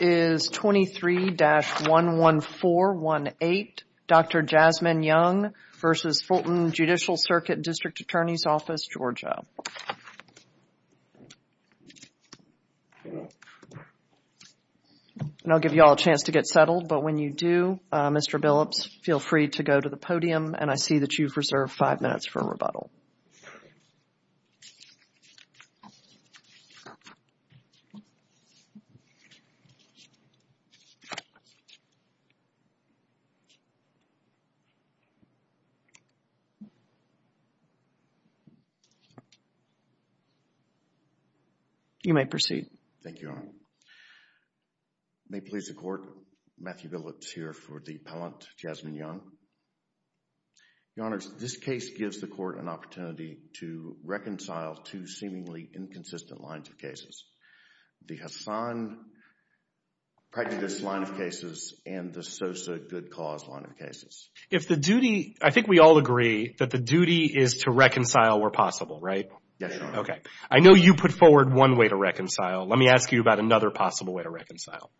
is 23-11418, Dr. Jasmine Younge v. Fulton Judicial Circuit District Attorney's Office, Georgia. And I'll give you all a chance to get settled, but when you do, Mr. Billups, feel free to go to the podium and I see that you've reserved five minutes for rebuttal. You may proceed. Thank you, Your Honor. May it please the Court, Matthew Billups here for the appellant, Jasmine Younge. Your Honors, this case gives the Court an opportunity to reconcile two seemingly inconsistent lines of cases, the Hassan Pregnantess line of cases and the Sosa Good Cause line of cases. If the duty, I think we all agree that the duty is to reconcile where possible, right? Yes, Your Honor. Okay. I know you put forward one way to reconcile. Let me ask you about another possible way to reconcile.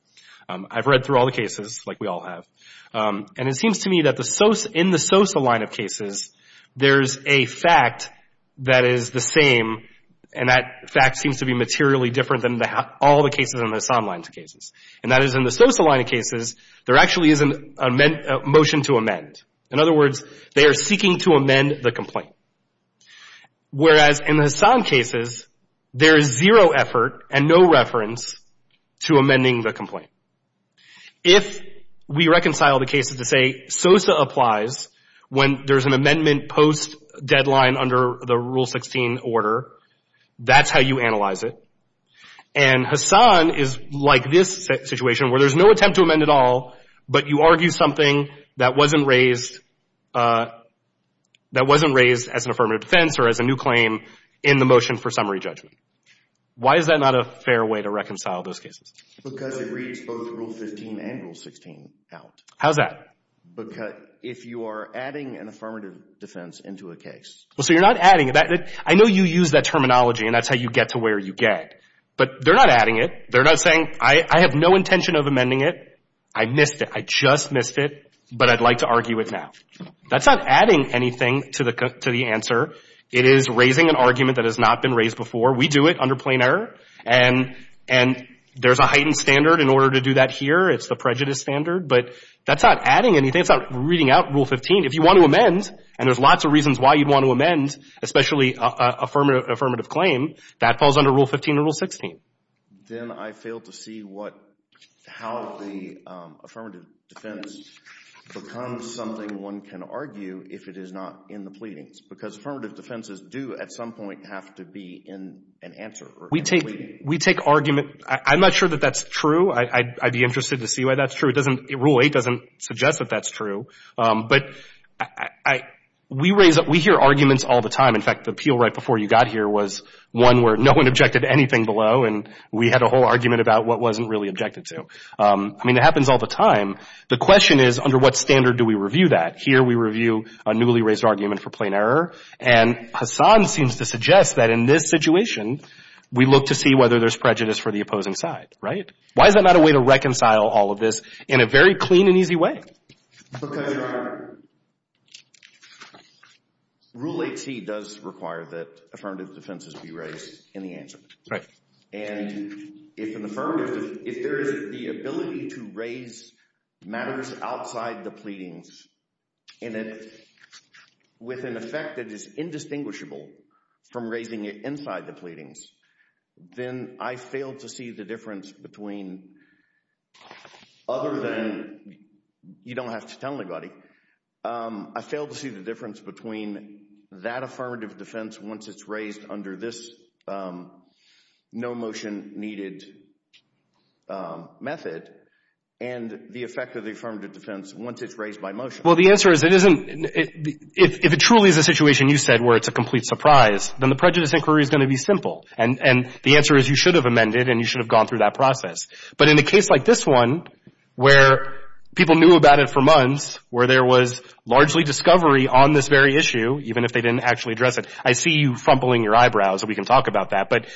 I've read through all the cases, like we all have, and it seems to me that in the Sosa line of cases, there's a fact that is the same, and that fact seems to be materially different than all the cases in the Hassan line of cases, and that is in the Sosa line of cases, there actually is a motion to amend. In other words, they are seeking to amend the complaint, whereas in the Hassan cases, there is zero effort and no reference to amending the complaint. If we reconcile the cases to say Sosa applies when there's an amendment post-deadline under the Rule 16 order, that's how you analyze it, and Hassan is like this situation where there's no attempt to amend at all, but you argue something that wasn't raised, that wasn't raised as an affirmative defense or as a new claim in the motion for re-judgment. Why is that not a fair way to reconcile those cases? Because it reads both Rule 15 and Rule 16 out. How's that? Because if you are adding an affirmative defense into a case. Well, so you're not adding that. I know you use that terminology, and that's how you get to where you get, but they're not adding it. They're not saying, I have no intention of amending it. I missed it. I just missed it, but I'd like to argue it now. That's not adding anything to the answer. It is raising an argument that has not been raised before. We do it under plain error, and there's a heightened standard in order to do that here. It's the prejudice standard, but that's not adding anything. It's not reading out Rule 15. If you want to amend, and there's lots of reasons why you'd want to amend, especially an affirmative claim, that falls under Rule 15 or Rule 16. Then I fail to see how the affirmative defense becomes something one can argue if it is not in the pleadings, because affirmative defenses do at some point have to be in an answer or a pleading. We take argument. I'm not sure that that's true. I'd be interested to see why that's true. Rule 8 doesn't suggest that that's true, but we hear arguments all the time. In fact, the appeal right before you got here was one where no one objected to anything below, and we had a whole argument about what wasn't really objected to. I mean, it happens all the time. The question is, under what standard do we review that? Here we review a newly raised argument for plain error, and Hassan seems to suggest that in this situation, we look to see whether there's prejudice for the opposing side, right? Why is that not a way to reconcile all of this in a very clean and easy way? Because Rule 8c does require that affirmative defenses be raised in the answer, and if there is the ability to raise matters outside the pleadings and with an effect that is indistinguishable from raising it inside the pleadings, then I fail to see the difference between, other than you don't have to tell anybody, I fail to see the difference between that affirmative defense once it's raised under this no-motion-needed method and the effect of the affirmative defense once it's raised by motion. Well, the answer is it isn't, if it truly is a situation you said where it's a complete surprise, then the prejudice inquiry is going to be simple, and the answer is you should have amended and you should have gone through that process. But in a case like this one, where people knew about it for months, where there was largely discovery on this very issue, even if they didn't actually address it, I see you frumpling your eyebrows, and we can talk about that, but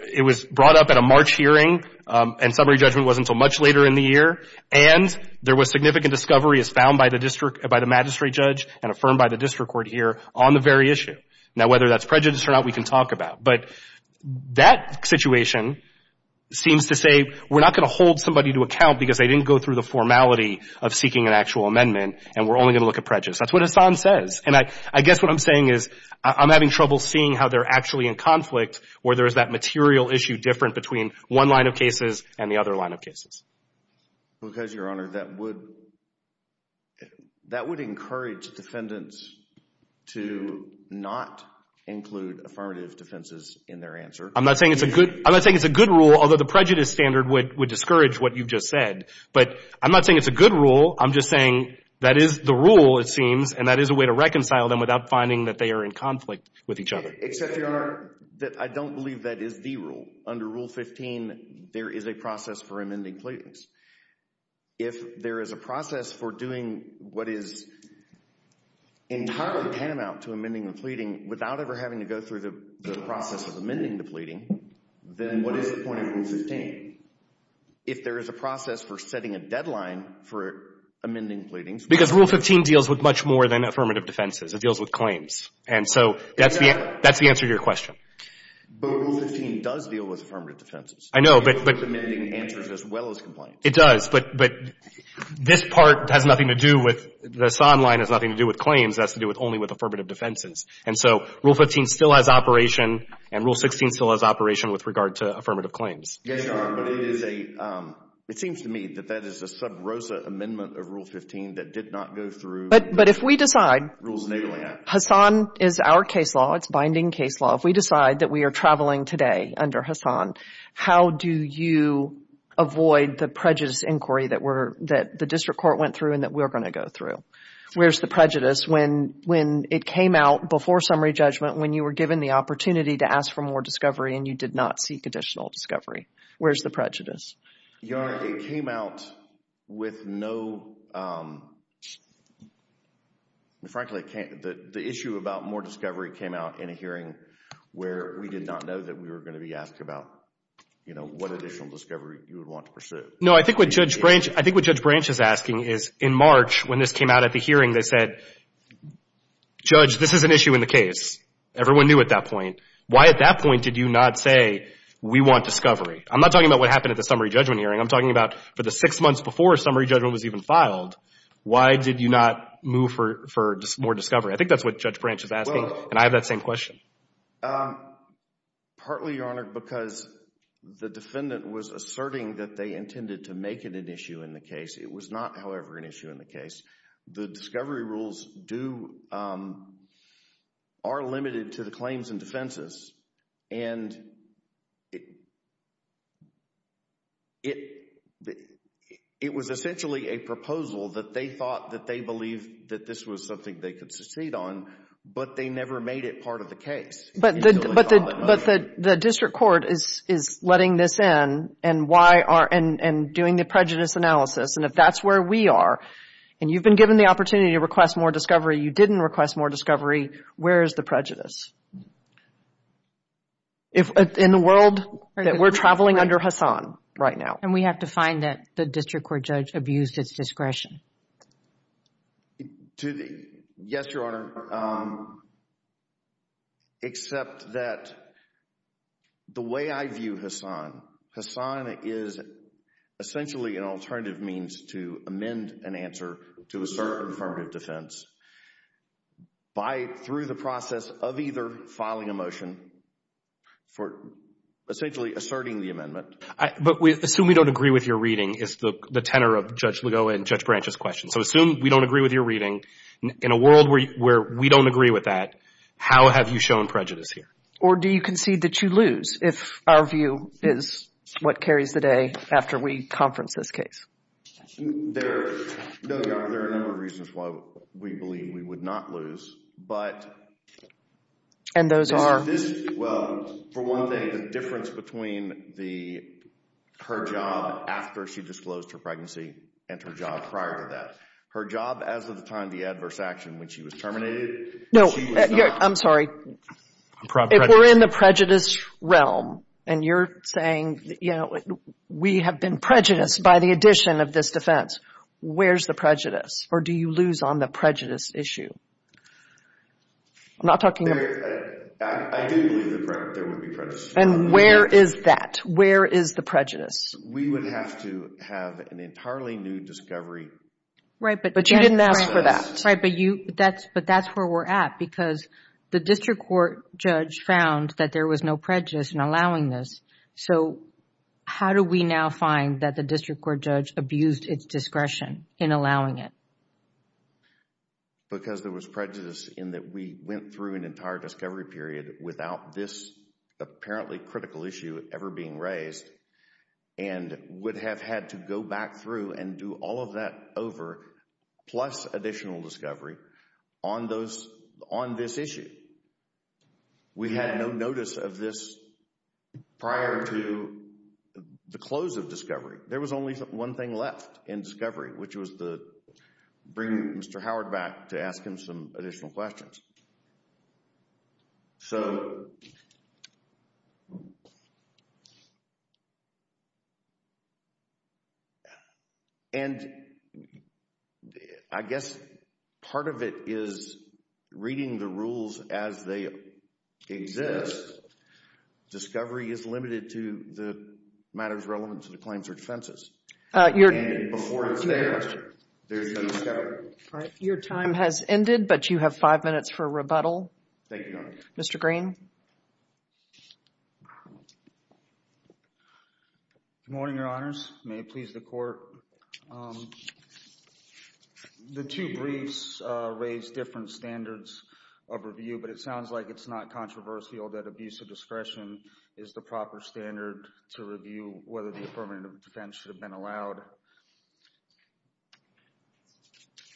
it was brought up at a March hearing, and summary judgment wasn't until much later in the year, and there was significant discovery as found by the magistrate judge and affirmed by the district court here on the very issue. Now, whether that's prejudice or not, we can talk about, but that situation seems to say we're not going to hold somebody to account because they didn't go through the formality of seeking an actual amendment, and we're only going to look at prejudice. That's what Hassan says, and I guess what I'm saying is I'm having trouble seeing how they're actually in conflict where there is that material issue different between one line of cases and the other line of cases. Because, Your Honor, that would encourage defendants to not include affirmative defenses in their answer. I'm not saying it's a good rule, although the prejudice standard would discourage what you've just said, but I'm not saying it's a rule, it seems, and that is a way to reconcile them without finding that they are in conflict with each other. Except, Your Honor, that I don't believe that is the rule. Under Rule 15, there is a process for amending pleadings. If there is a process for doing what is entirely paramount to amending the pleading without ever having to go through the process of amending the pleading, then what is the point of Rule 15? If there is a process for setting a deadline for amending pleadings. Because Rule 15 deals with much more than affirmative defenses. It deals with claims, and so that's the answer to your question. But Rule 15 does deal with affirmative defenses. I know, but. It deals with amending answers as well as complaints. It does, but this part has nothing to do with, the Hassan line has nothing to do with claims, it has to do only with affirmative defenses. And so Rule 15 still has operation and Rule 16 still has operation with regard to affirmative claims. Yes, Your Honor, but it is a, it seems to me that that is a sub rosa amendment of Rule 15 that did not go through. But, but if we decide. Hassan is our case law, it's binding case law. If we decide that we are traveling today under Hassan, how do you avoid the prejudice inquiry that we're, that the district court went through and that we're going to go through? Where's the prejudice when, when it came out before summary judgment when you were given the opportunity to ask for more discovery and you did not seek additional discovery? Where's the prejudice? Your Honor, it came out with no, frankly, the issue about more discovery came out in a hearing where we did not know that we were going to be asked about, you know, what additional discovery you would want to pursue. No, I think what Judge Branch, I think what Judge Branch is asking is, in March, when this came out at the hearing, they said, Judge, this is an issue in the case. Everyone knew at that point. Why at that point did you not say we want discovery? I'm not talking about what happened at the summary judgment hearing. I'm talking about for the six months before summary judgment was even filed, why did you not move for, for more discovery? I think that's what Judge Branch is asking, and I have that same question. Partly, Your Honor, because the defendant was asserting that they intended to make it an issue in the case. It was not, however, an issue in the case. The discovery rules do, are limited to the case. It, it was essentially a proposal that they thought that they believed that this was something they could succeed on, but they never made it part of the case. But the, but the, but the, the district court is, is letting this in, and why are, and, and doing the prejudice analysis, and if that's where we are, and you've been given the opportunity to request more discovery, you didn't request more discovery, where is the prejudice? If, in the world, that we're traveling under Hassan right now. And we have to find that the district court judge abused its discretion. To the, yes, Your Honor. Except that the way I view Hassan, Hassan is essentially an alternative means to amend an answer to assert affirmative defense by, through the process of either filing a motion for essentially asserting the amendment. But we assume we don't agree with your reading is the tenor of Judge Ligo and Judge Branch's question. So assume we don't agree with your reading. In a world where we don't agree with that, how have you shown prejudice here? Or do you concede that you lose if our view is what carries the day after we conference this case? There, no, Your Honor, there are a number of reasons why we believe we would not lose, but. And those are? This, well, for one thing, the difference between the, her job after she disclosed her pregnancy and her job prior to that. Her job as of the time of the adverse action when she was terminated. No, I'm sorry. If we're in the prejudice realm, and you're saying, you know, we have been prejudiced by the addition of this defense, where's the prejudice? Or do you lose on the prejudice issue? I'm not talking. I didn't believe there would be prejudice. And where is that? Where is the prejudice? We would have to have an entirely new discovery. Right, but you didn't ask for that. Right, but you, that's, but that's where we're at because the district court judge found that there was no prejudice in allowing this. So, how do we now find that the district court judge abused its discretion in allowing it? Because there was prejudice in that we went through an entire discovery period without this apparently critical issue ever being raised and would have had to go back through and do all of that over plus additional discovery on those, on this issue. We had no notice of this prior to the close of discovery. There was only one thing left in discovery, which was to bring Mr. Howard back to ask him some additional questions. So, and I guess part of it is reading the rules as they exist. Discovery is limited to the matters relevant to the claims or defenses. Before it's there, there's no discovery. All right, your time has ended, but you have five minutes for rebuttal. Thank you, Your Honor. Mr. Green. Good morning, Your Honors. May it please the court. The two briefs raised different standards of review, but it sounds like it's not controversial that abuse of discretion is the proper standard to review whether the affirmative defense should have been allowed.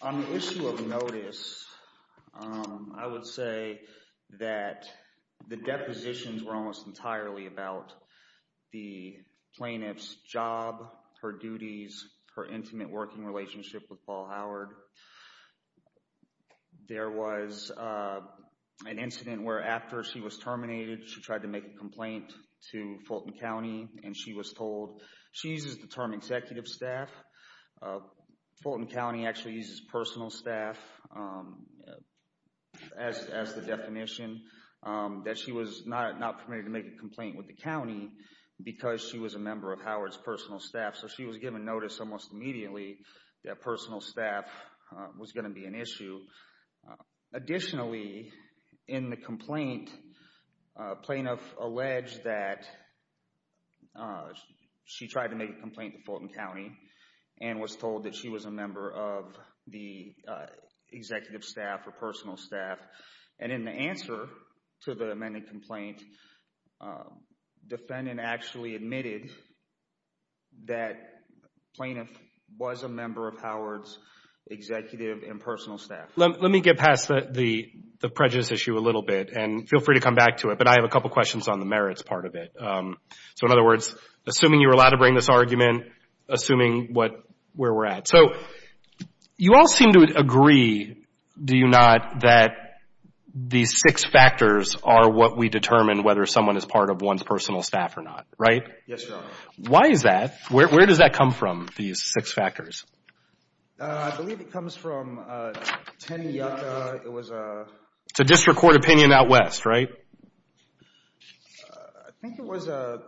On the issue of notice, I would say that the depositions were almost entirely about the plaintiff's job, her duties, her intimate working relationship with Paul Howard. There was an incident where after she was terminated, she tried to make a complaint to Fulton County and she was told, she uses the term executive staff, Fulton County actually uses personal staff as the definition, that she was not permitted to make a complaint with the county because she was a member of Howard's personal staff. So she was given notice almost immediately that personal staff was going to be an issue. Additionally, in the complaint, plaintiff alleged that she tried to make a complaint to Fulton County and was told that she was a member of the executive staff or personal staff. And in the answer to the amended complaint, defendant actually admitted that plaintiff was a member of Howard's executive and personal staff. Let me get past the prejudice issue a little bit and feel free to come back to it. But I have a couple of questions on the merits part of it. So in other words, assuming you're allowed to bring this argument, assuming where we're at. So you all seem to agree, do you not, that these six factors are what we determine whether someone is part of one's personal staff or not, right? Yes, Your Honor. Why is that? Where does that come from, these six factors? I believe it comes from 10 Yucca. It's a district court opinion out west, right? I think it was a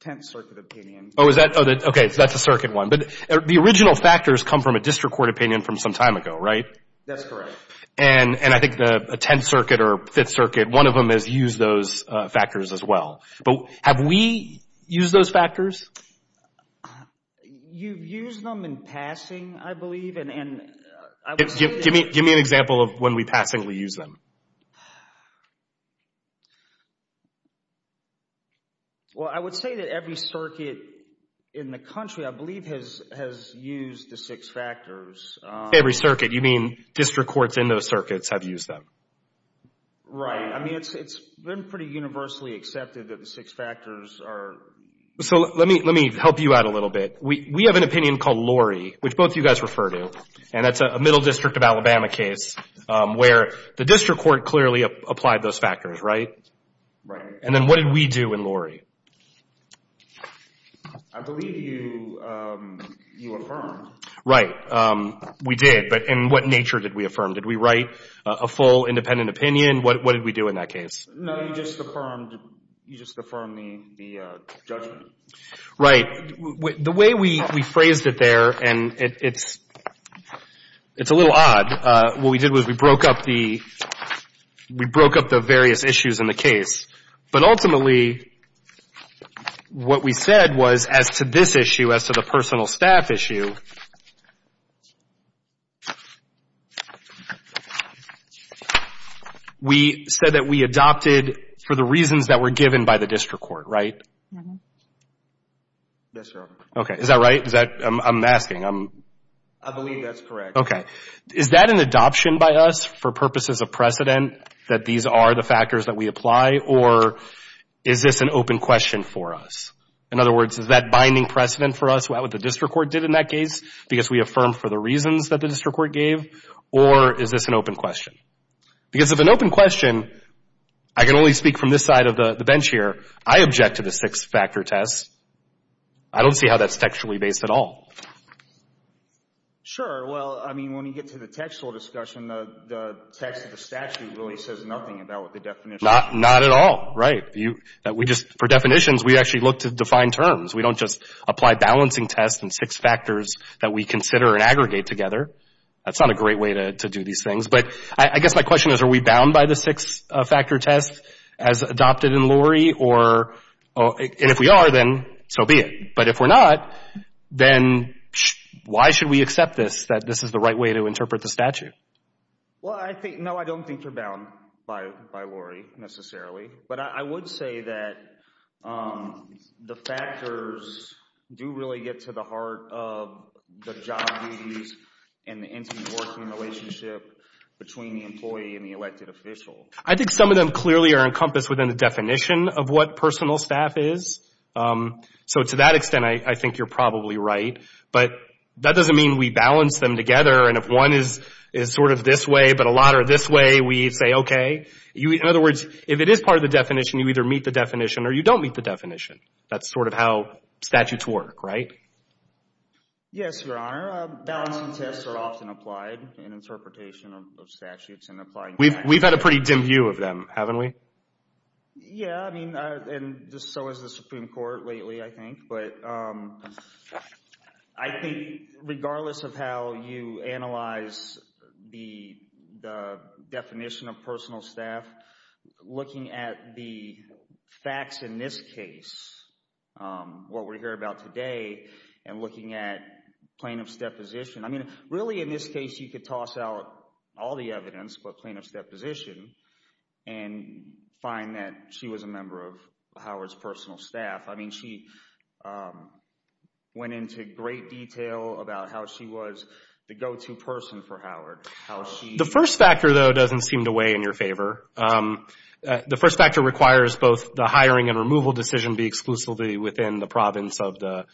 Tenth Circuit opinion. Oh, is that? Okay, that's a circuit one. But the original factors come from a district court opinion from some time ago, right? That's correct. And I think the Tenth Circuit or Fifth Circuit, one of them has used those factors as well. But have we used those factors? You've used them in passing, I believe. And I would say that... Give me an example of when we pass and we use them. Well, I would say that every circuit in the country, I believe, has used the six factors. Every circuit, you mean district courts in those circuits have used them? Right, I mean, it's been pretty universally accepted that the six factors are... So let me help you out a little bit. We have an opinion called Lorry, which both of you guys refer to. And that's a Middle District of Alabama case where the district court clearly applied those factors, right? Right. And then what did we do in Lorry? I believe you affirmed. Right, we did. But in what nature did we affirm? Did we write a full independent opinion? What did we do in that case? No, you just affirmed the judgment. Right. The way we phrased it there, and it's a little odd. What we did was we broke up the various issues in the case. But ultimately, what we said was as to this issue, as to the personal staff issue, we said that we adopted for the reasons that were given by the district court, right? Yes, sir. Okay. Is that right? I'm asking. I believe that's correct. Okay. Is that an adoption by us for purposes of precedent that these are the factors that we apply? Or is this an open question for us? In other words, is that binding precedent for us? What the district court did in that case? Because we affirmed for the reasons that the district court gave? Or is this an open question? Because if an open question, I can only speak from this side of the bench here. I object to the six-factor test. I don't see how that's textually based at all. Sure. Well, I mean, when you get to the textual discussion, the text of the statute really says nothing about what the definition is. Not at all, right. For definitions, we actually look to define terms. We don't just apply balancing tests and six factors that we consider and aggregate together. That's not a great way to do these things. But I guess my question is, are we bound by the six-factor test as adopted in Lori? And if we are, then so be it. But if we're not, then why should we accept this, that this is the right way to interpret the statute? Well, no, I don't think we're bound by Lori, necessarily. But I would say that the factors do really get to the heart of the job duties and the intimate working relationship between the employee and the elected official. I think some of them clearly are encompassed within the definition of what personal staff is. So to that extent, I think you're probably right. But that doesn't mean we balance them together. And if one is sort of this way, but a lot are this way, we say, okay. In other words, if it is part of the definition, you either meet the definition or you don't meet the definition. That's sort of how statutes work, right? Yes, Your Honor. Balancing tests are often applied in interpretation of statutes and applying them. We've had a pretty dim view of them, haven't we? Yeah, I mean, and just so is the Supreme Court lately, I think. But I think regardless of how you analyze the definition of personal staff, looking at the facts in this case, what we hear about today, and looking at plaintiff's deposition, I mean, really in this case, you could toss out all the evidence, but plaintiff's deposition and find that she was a member of Howard's personal staff. I mean, she went into great detail about how she was the go-to person for Howard. The first factor, though, doesn't seem to weigh in your favor. The first factor requires both the hiring and removal decision be exclusively within the province of the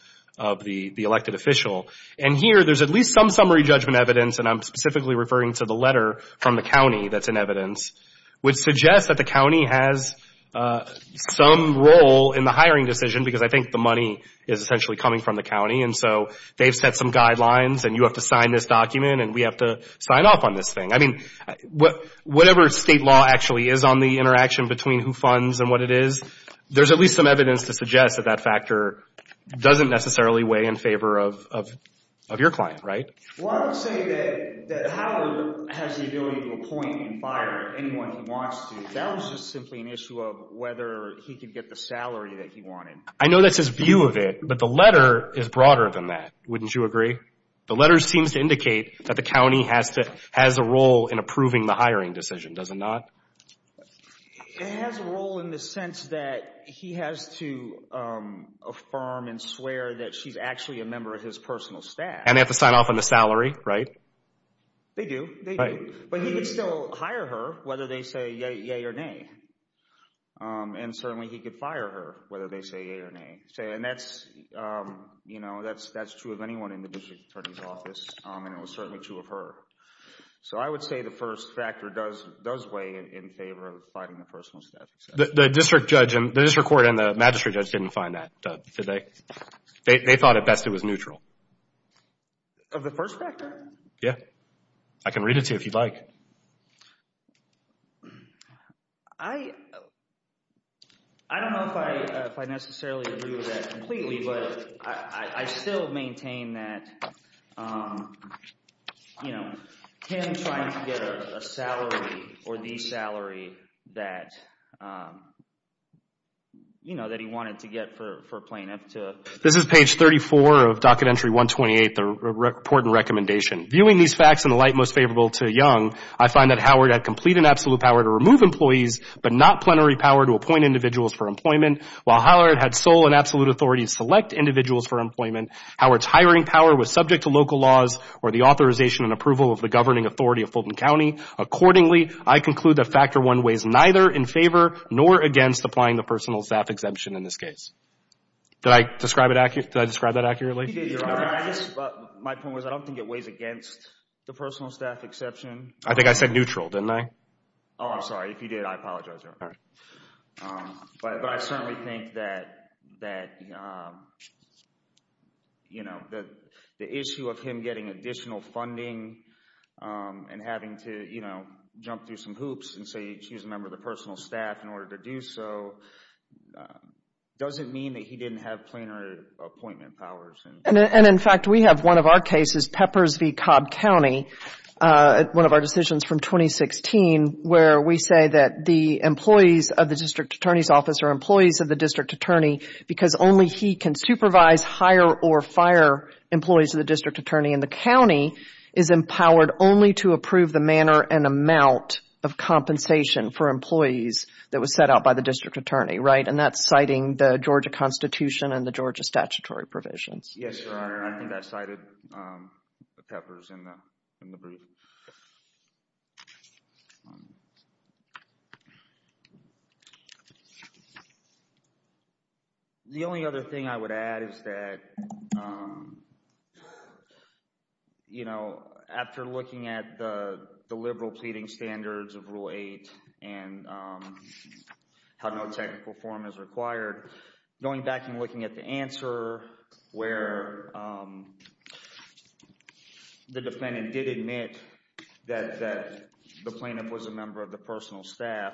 elected official. And here, there's at least some summary judgment evidence, and I'm specifically referring to the letter from the county that's in evidence, which suggests that the county has some role in the hiring decision, because I think the money is essentially coming from the county. And so they've set some guidelines, and you have to sign this document, and we have to sign off on this thing. I mean, whatever state law actually is on the interaction between who funds and what it is, there's at least some evidence to suggest that that factor doesn't necessarily weigh in favor of your client, right? Well, I would say that Howard has the ability to appoint and fire anyone he wants to. That was just simply an issue of whether he could get the salary that he wanted. I know that's his view of it, but the letter is broader than that. Wouldn't you agree? The letter seems to indicate that the county has a role in approving the hiring decision. Does it not? It has a role in the sense that he has to affirm and swear that she's actually a member of his personal staff. And they have to sign off on the salary, right? They do. They do. But he could still hire her, whether they say yay or nay. And certainly he could fire her, whether they say yay or nay. Say, and that's true of anyone in the district attorney's office, and it was certainly true of her. So I would say the first factor does weigh in favor of fighting the personal staff. The district court and the magistrate judge didn't find that, did they? They thought at best it was neutral. Of the first factor? Yeah. I can read it to you if you'd like. I don't know if I necessarily agree with that completely. But I still maintain that, you know, him trying to get a salary or the salary that, you know, that he wanted to get for playing up to. This is page 34 of docket entry 128, the report and recommendation. Viewing these facts in the light most favorable to Young, I find that Howard had complete and absolute power to remove employees, but not plenary power to appoint individuals for While Howard had sole and absolute authority to select individuals for employment, Howard's hiring power was subject to local laws or the authorization and approval of the governing authority of Fulton County. Accordingly, I conclude that factor one weighs neither in favor nor against applying the personal staff exemption in this case. Did I describe it? Did I describe that accurately? But my point was, I don't think it weighs against the personal staff exception. I think I said neutral, didn't I? Oh, I'm sorry. If you did, I apologize. But I certainly think that that, you know, that the issue of him getting additional funding and having to, you know, jump through some hoops and say, she's a member of the personal staff in order to do so. It doesn't mean that he didn't have plenary appointment powers. And in fact, we have one of our cases, Peppers v. Cobb County, one of our decisions from 2016 where we say that the employees of the district attorney's office are employees of the district attorney because only he can supervise, hire or fire employees of the district attorney. And the county is empowered only to approve the manner and amount of compensation for employees that was set out by the district attorney, right? And that's citing the Georgia Constitution and the Georgia statutory provisions. Yes, Your Honor. And I think that cited Peppers in the brief. The only other thing I would add is that, you know, after looking at the liberal pleading standards of Rule 8 and how no technical form is required, going back and looking at the answer where the defendant did admit that the plaintiff was a member of the personal staff,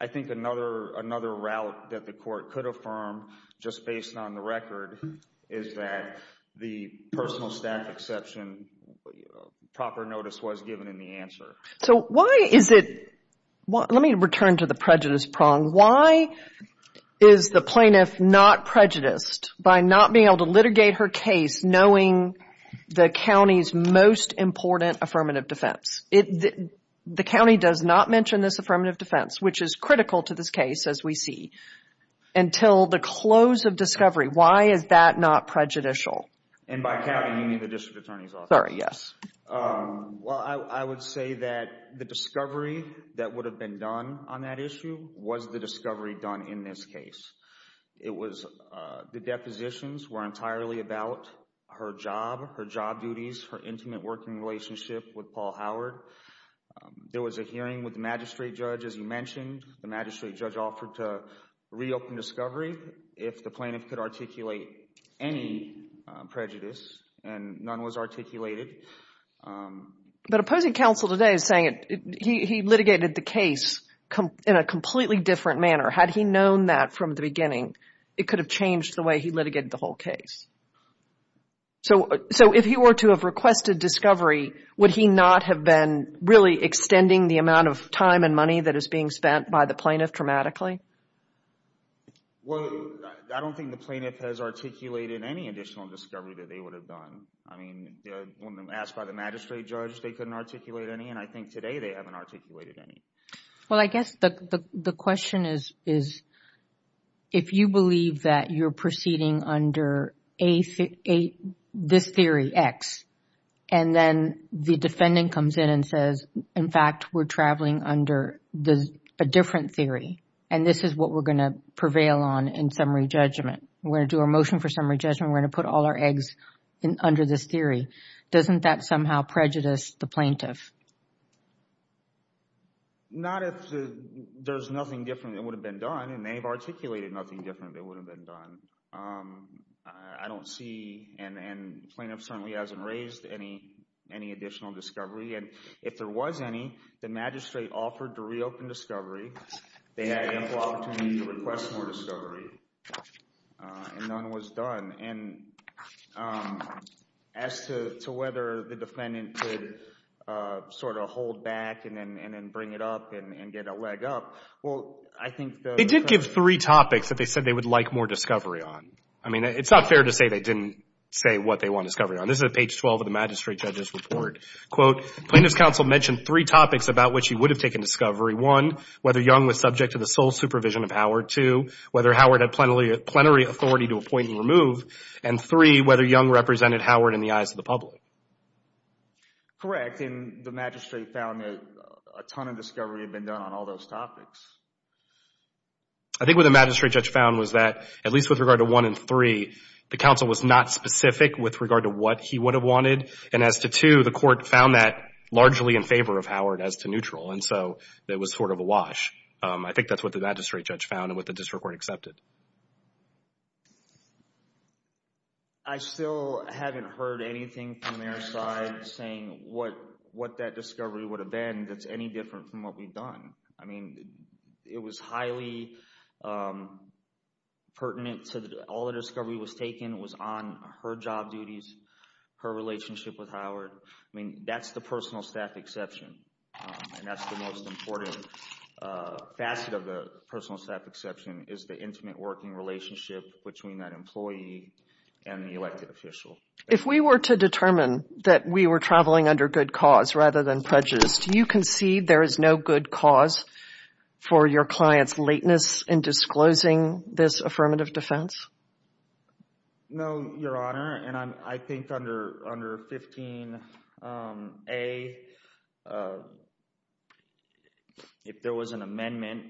I think another route that the court could affirm, just based on the record, is that the personal staff exception proper notice was given in the answer. So why is it, let me return to the prejudice prong, why is the plaintiff not prejudiced by not being able to litigate her case knowing the county's most important affirmative defense? The county does not mention this affirmative defense, which is critical to this case as we see, until the close of discovery. Why is that not prejudicial? And by county, you mean the district attorney's office? Sorry, yes. Well, I would say that the discovery that would have been done on that issue was the discovery done in this case. It was, the depositions were entirely about her job, her job duties, her intimate working relationship with Paul Howard. There was a hearing with the magistrate judge, as you mentioned. The magistrate judge offered to reopen discovery if the plaintiff could articulate any prejudice and none was articulated. But opposing counsel today is saying he litigated the case in a completely different manner. Had he known that from the beginning, it could have changed the way he litigated the whole case. So if he were to have requested discovery, would he not have been really extending the amount of time and money that is being spent by the plaintiff dramatically? Well, I don't think the plaintiff has articulated any additional discovery that they would have done. I mean, when asked by the magistrate judge, they couldn't articulate any. And I think today they haven't articulated any. Well, I guess the question is, if you believe that you're proceeding under this theory, X, and then the defendant comes in and says, in fact, we're traveling under a different theory, and this is what we're going to prevail on in summary judgment. We're going to do a motion for summary judgment. We're going to put all our eggs under this theory. Doesn't that somehow prejudice the plaintiff? Not if there's nothing different that would have been done, and they've articulated nothing different that would have been done. I don't see, and plaintiff certainly hasn't raised any additional discovery. And if there was any, the magistrate offered to reopen discovery. They had ample opportunity to request more discovery, and none was done. And as to whether the defendant could sort of hold back and then bring it up and get a leg up, well, I think the- They did give three topics that they said they would like more discovery on. I mean, it's not fair to say they didn't say what they want discovery on. This is at page 12 of the magistrate judge's report. Quote, plaintiff's counsel mentioned three topics about which he would have taken discovery. One, whether Young was subject to the sole supervision of Howard. Two, whether Howard had plenary authority to appoint and remove. And three, whether Young represented Howard in the eyes of the public. Correct. And the magistrate found a ton of discovery had been done on all those topics. I think what the magistrate judge found was that, at least with regard to one and three, the counsel was not specific with regard to what he would have wanted. And as to two, the court found that largely in favor of Howard as to neutral. And so, it was sort of a wash. I think that's what the magistrate judge found and what the district court accepted. I still haven't heard anything from their side saying what that discovery would have been that's any different from what we've done. I mean, it was highly pertinent to all the discovery was taken was on her job duties, her relationship with Howard. I mean, that's the personal staff exception. And that's the most important facet of the personal staff exception, is the intimate working relationship between that employee and the elected official. If we were to determine that we were traveling under good cause rather than prejudice, do you concede there is no good cause for your client's lateness in disclosing this affirmative defense? No, Your Honor. And I think under 15A, if there was an amendment,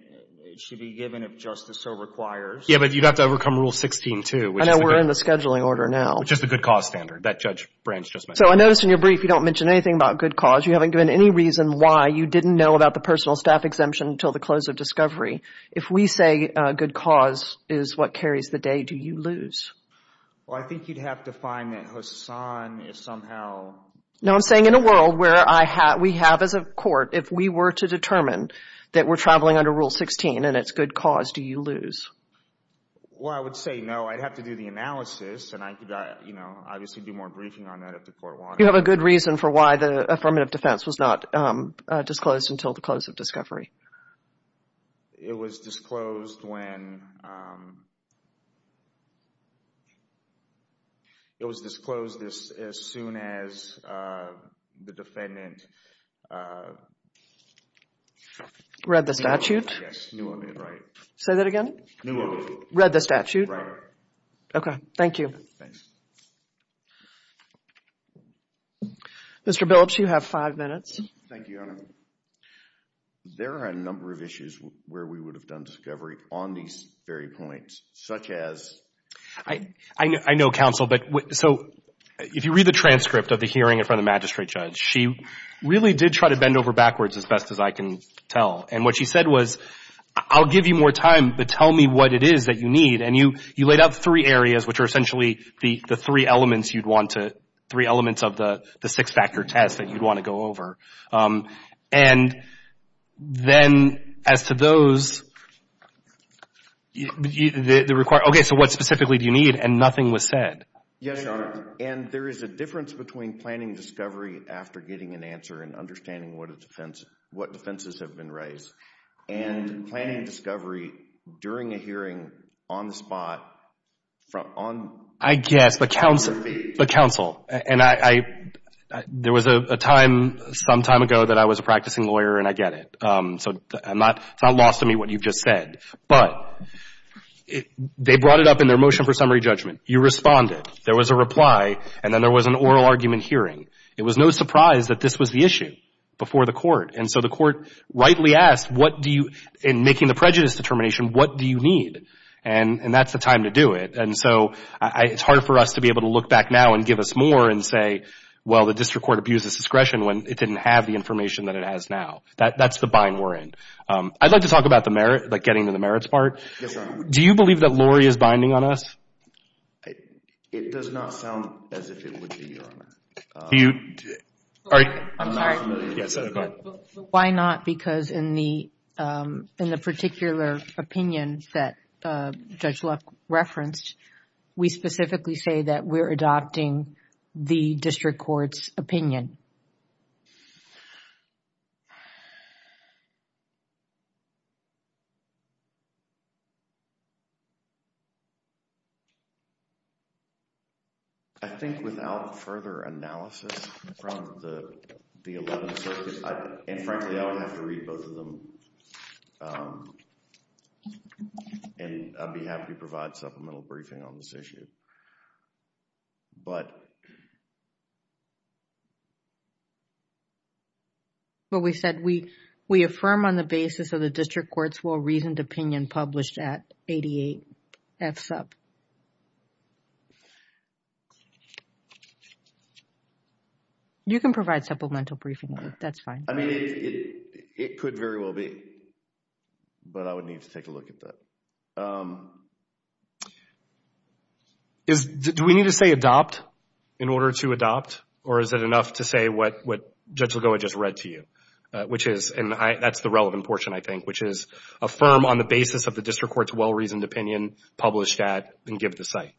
it should be given if justice so requires. Yeah, but you'd have to overcome Rule 16 too. I know we're in the scheduling order now. Which is the good cause standard that Judge Branch just mentioned. So, I noticed in your brief, you don't mention anything about good cause. You haven't given any reason why you didn't know about the personal staff exemption until the close of discovery. If we say good cause is what carries the day, do you lose? Well, I think you'd have to find that Hassan is somehow... No, I'm saying in a world where we have as a court, if we were to determine that we're traveling under Rule 16 and it's good cause, do you lose? Well, I would say no. I'd have to do the analysis and I could, you know, obviously do more briefing on that if the court wanted. You have a good reason for why the affirmative defense was not disclosed until the close of discovery. It was disclosed when... It was disclosed as soon as the defendant... Read the statute? Yes, knew of it, right. Say that again? Knew of it. Read the statute? Right. Okay, thank you. Thanks. Mr. Billups, you have five minutes. Thank you, Your Honor. So, there are a number of issues where we would have done discovery on these very points, such as... I know, counsel, but so if you read the transcript of the hearing in front of the magistrate judge, she really did try to bend over backwards as best as I can tell. And what she said was, I'll give you more time, but tell me what it is that you need. And you laid out three areas, which are essentially the three elements you'd want to, three elements of the six-factor test that you'd want to go over. And then, as to those... Okay, so what specifically do you need? And nothing was said. Yes, Your Honor. And there is a difference between planning discovery after getting an answer and understanding what defenses have been raised. And planning discovery during a hearing, on the spot, on... I guess, but counsel... But counsel. And there was a time, some time ago, that I was a practicing lawyer, and I get it. So, it's not lost to me what you've just said. But they brought it up in their motion for summary judgment. You responded. There was a reply. And then there was an oral argument hearing. It was no surprise that this was the issue before the court. And so, the court rightly asked, what do you... In making the prejudice determination, what do you need? And that's the time to do it. And so, it's hard for us to be able to look back now and give us more and say, well, the district court abused its discretion when it didn't have the information that it has now. That's the bind we're in. I'd like to talk about the merit, like getting to the merits part. Yes, Your Honor. Do you believe that Lori is binding on us? It does not sound as if it would be, Your Honor. Do you... I'm sorry. Why not? Because in the particular opinion that Judge Luck referenced, we specifically say that we're adopting the district court's opinion. I think without further analysis from the 11th Circuit, and frankly, I would have to read both of them. And I'd be happy to provide supplemental briefing on this issue. But... Well, we said we affirm on the basis of the district court's well-reasoned opinion published at 88 FSUP. You can provide supplemental briefing. That's fine. I mean, it could very well be. But I would need to take a look at that. Do we need to say adopt in order to adopt? Or is it enough to say what Judge Lagoa just read to you, which is... And that's the relevant portion, I think, which is affirm on the basis of the district court's well-reasoned opinion published at and give the site.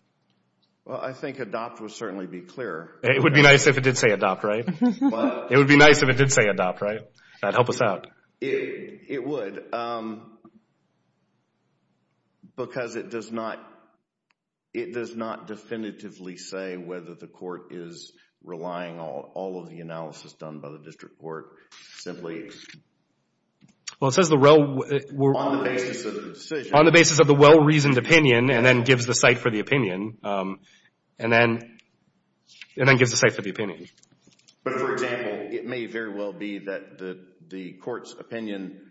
Well, I think adopt would certainly be clearer. It would be nice if it did say adopt, right? It would be nice if it did say adopt, right? That'd help us out. It would. Because it does not... It does not definitively say whether the court is relying on all of the analysis done by the district court. Simply... Well, it says the... On the basis of the well-reasoned opinion, and then gives the site for the opinion. And then... And then gives the site for the opinion. But, for example, it may very well be that the court's opinion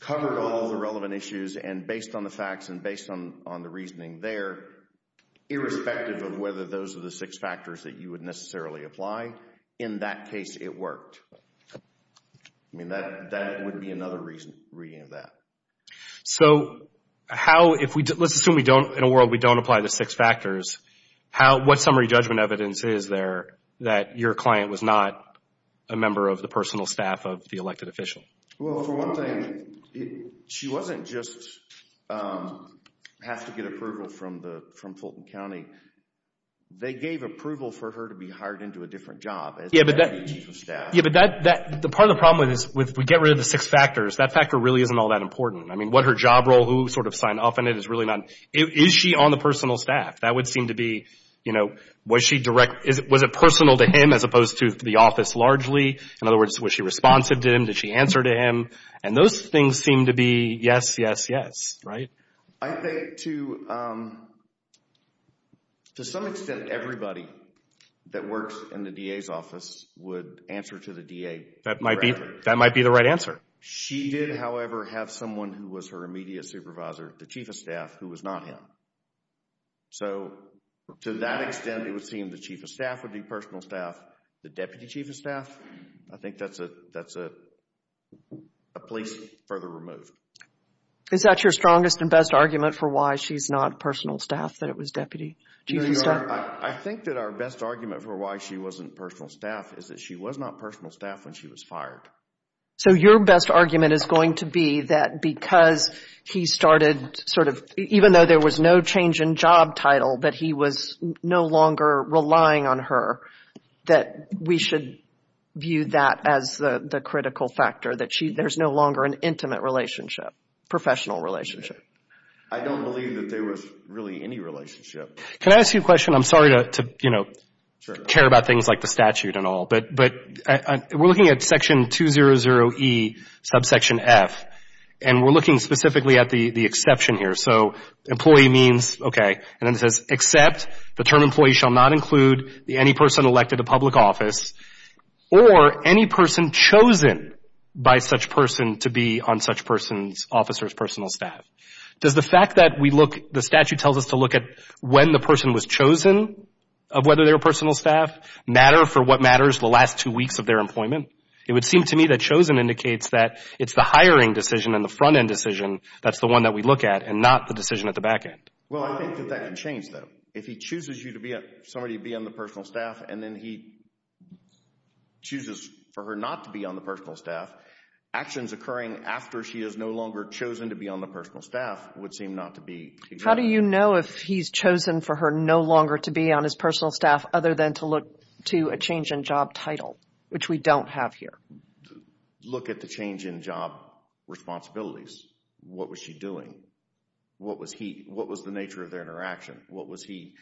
covered all the relevant issues, and based on the facts and based on the reasoning there, irrespective of whether those are the six factors that you would necessarily apply, in that case, it worked. I mean, that would be another reading of that. So, how if we... Let's assume we don't... In a world we don't apply the six factors, what summary judgment evidence is there that your client was not a member of the personal staff of the elected official? Well, for one thing, she wasn't just... Have to get approval from the... From Fulton County. They gave approval for her to be hired into a different job. Yeah, but that... Yeah, but that... The part of the problem with this, with we get rid of the six factors, that factor really isn't all that important. I mean, what her job role, who sort of signed off on it is really not... Is she on the personal staff? That would seem to be, you know, was she direct... Was it personal to him as opposed to the office largely? In other words, was she responsive to him? Did she answer to him? And those things seem to be yes, yes, yes, right? I think to... To some extent, everybody that works in the DA's office would answer to the DA. That might be the right answer. She did, however, have someone who was her immediate supervisor, the chief of staff, who was not him. So to that extent, it would seem the chief of staff would be personal staff. The deputy chief of staff, I think that's a place further removed. Is that your strongest and best argument for why she's not personal staff, that it was deputy chief of staff? I think that our best argument for why she wasn't personal staff is that she was not personal staff when she was fired. So your best argument is going to be that because he started sort of... Even though there was no change in job title, that he was no longer relying on her, that we should view that as the critical factor, that there's no longer an intimate relationship, professional relationship. I don't believe that there was really any relationship. Can I ask you a question? I'm sorry to, you know, care about things like the statute and all, but we're looking at section 200E, subsection F, and we're looking specifically at the exception here. Employee means, okay, and then it says, except the term employee shall not include any person elected to public office or any person chosen by such person to be on such person's officer's personal staff. Does the fact that we look, the statute tells us to look at when the person was chosen of whether they were personal staff matter for what matters the last two weeks of their employment? It would seem to me that chosen indicates that it's the hiring decision and the front-end decision that's the one that we look at and not the decision at the back-end. Well, I think that that can change though. If he chooses you to be, somebody to be on the personal staff and then he chooses for her not to be on the personal staff, actions occurring after she is no longer chosen to be on the personal staff would seem not to be. How do you know if he's chosen for her no longer to be on his personal staff other than to look to a change in job title, which we don't have here? Look at the change in job responsibilities. What was she doing? What was he, what was the nature of their interaction? What was he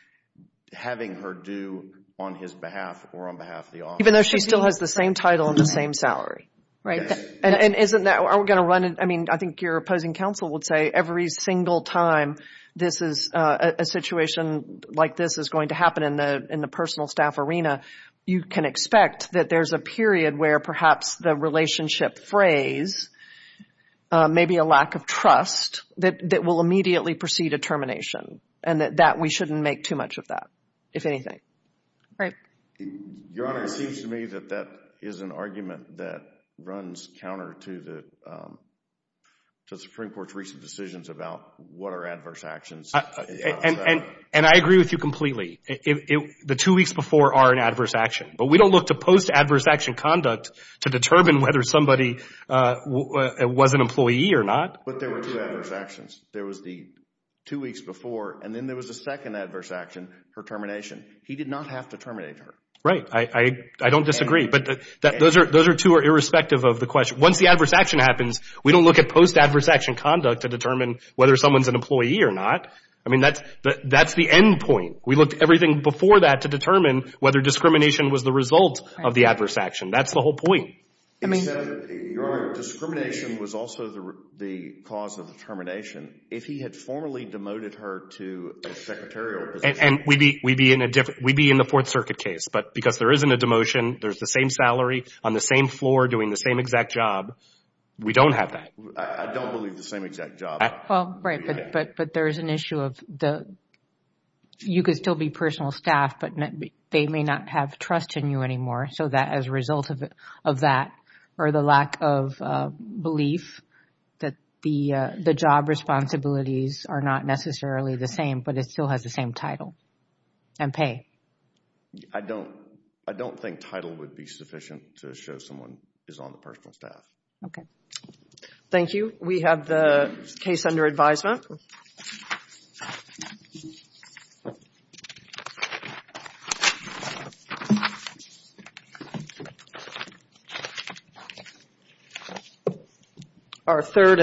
having her do on his behalf or on behalf of the office? Even though she still has the same title and the same salary. Right. And isn't that, are we going to run it? I mean, I think your opposing counsel would say every single time this is a situation like this is going to happen in the personal staff arena, you can expect that there's a period where perhaps the relationship frays, maybe a lack of trust that will immediately precede a termination. And that we shouldn't make too much of that, if anything. Right. Your Honor, it seems to me that that is an argument that runs counter to the Supreme Court's recent decisions about what are adverse actions. And I agree with you completely. The two weeks before are an adverse action. But we don't look to post adverse action conduct to determine whether somebody was an employee or not. But there were two adverse actions. There was the two weeks before and then there was a second adverse action for termination. He did not have to terminate her. Right. I don't disagree. But those are two are irrespective of the question. Once the adverse action happens, we don't look at post adverse action conduct to determine whether someone's an employee or not. I mean, that's the end point. We looked at everything before that to determine whether discrimination was the result of the adverse action. That's the whole point. Your Honor, discrimination was also the cause of termination. If he had formally demoted her to a secretarial position... And we'd be in a different... We'd be in the Fourth Circuit case. But because there isn't a demotion, there's the same salary on the same floor doing the same exact job. We don't have that. I don't believe the same exact job. Well, right, but there is an issue of the... You could still be personal staff, but they may not have trust in you anymore. So that as a result of that or the lack of belief that the job responsibilities are not necessarily the same, but it still has the same title and pay. I don't think title would be sufficient to show someone is on the personal staff. Okay. Thank you. We have the case under advisement. Thank you. Our third...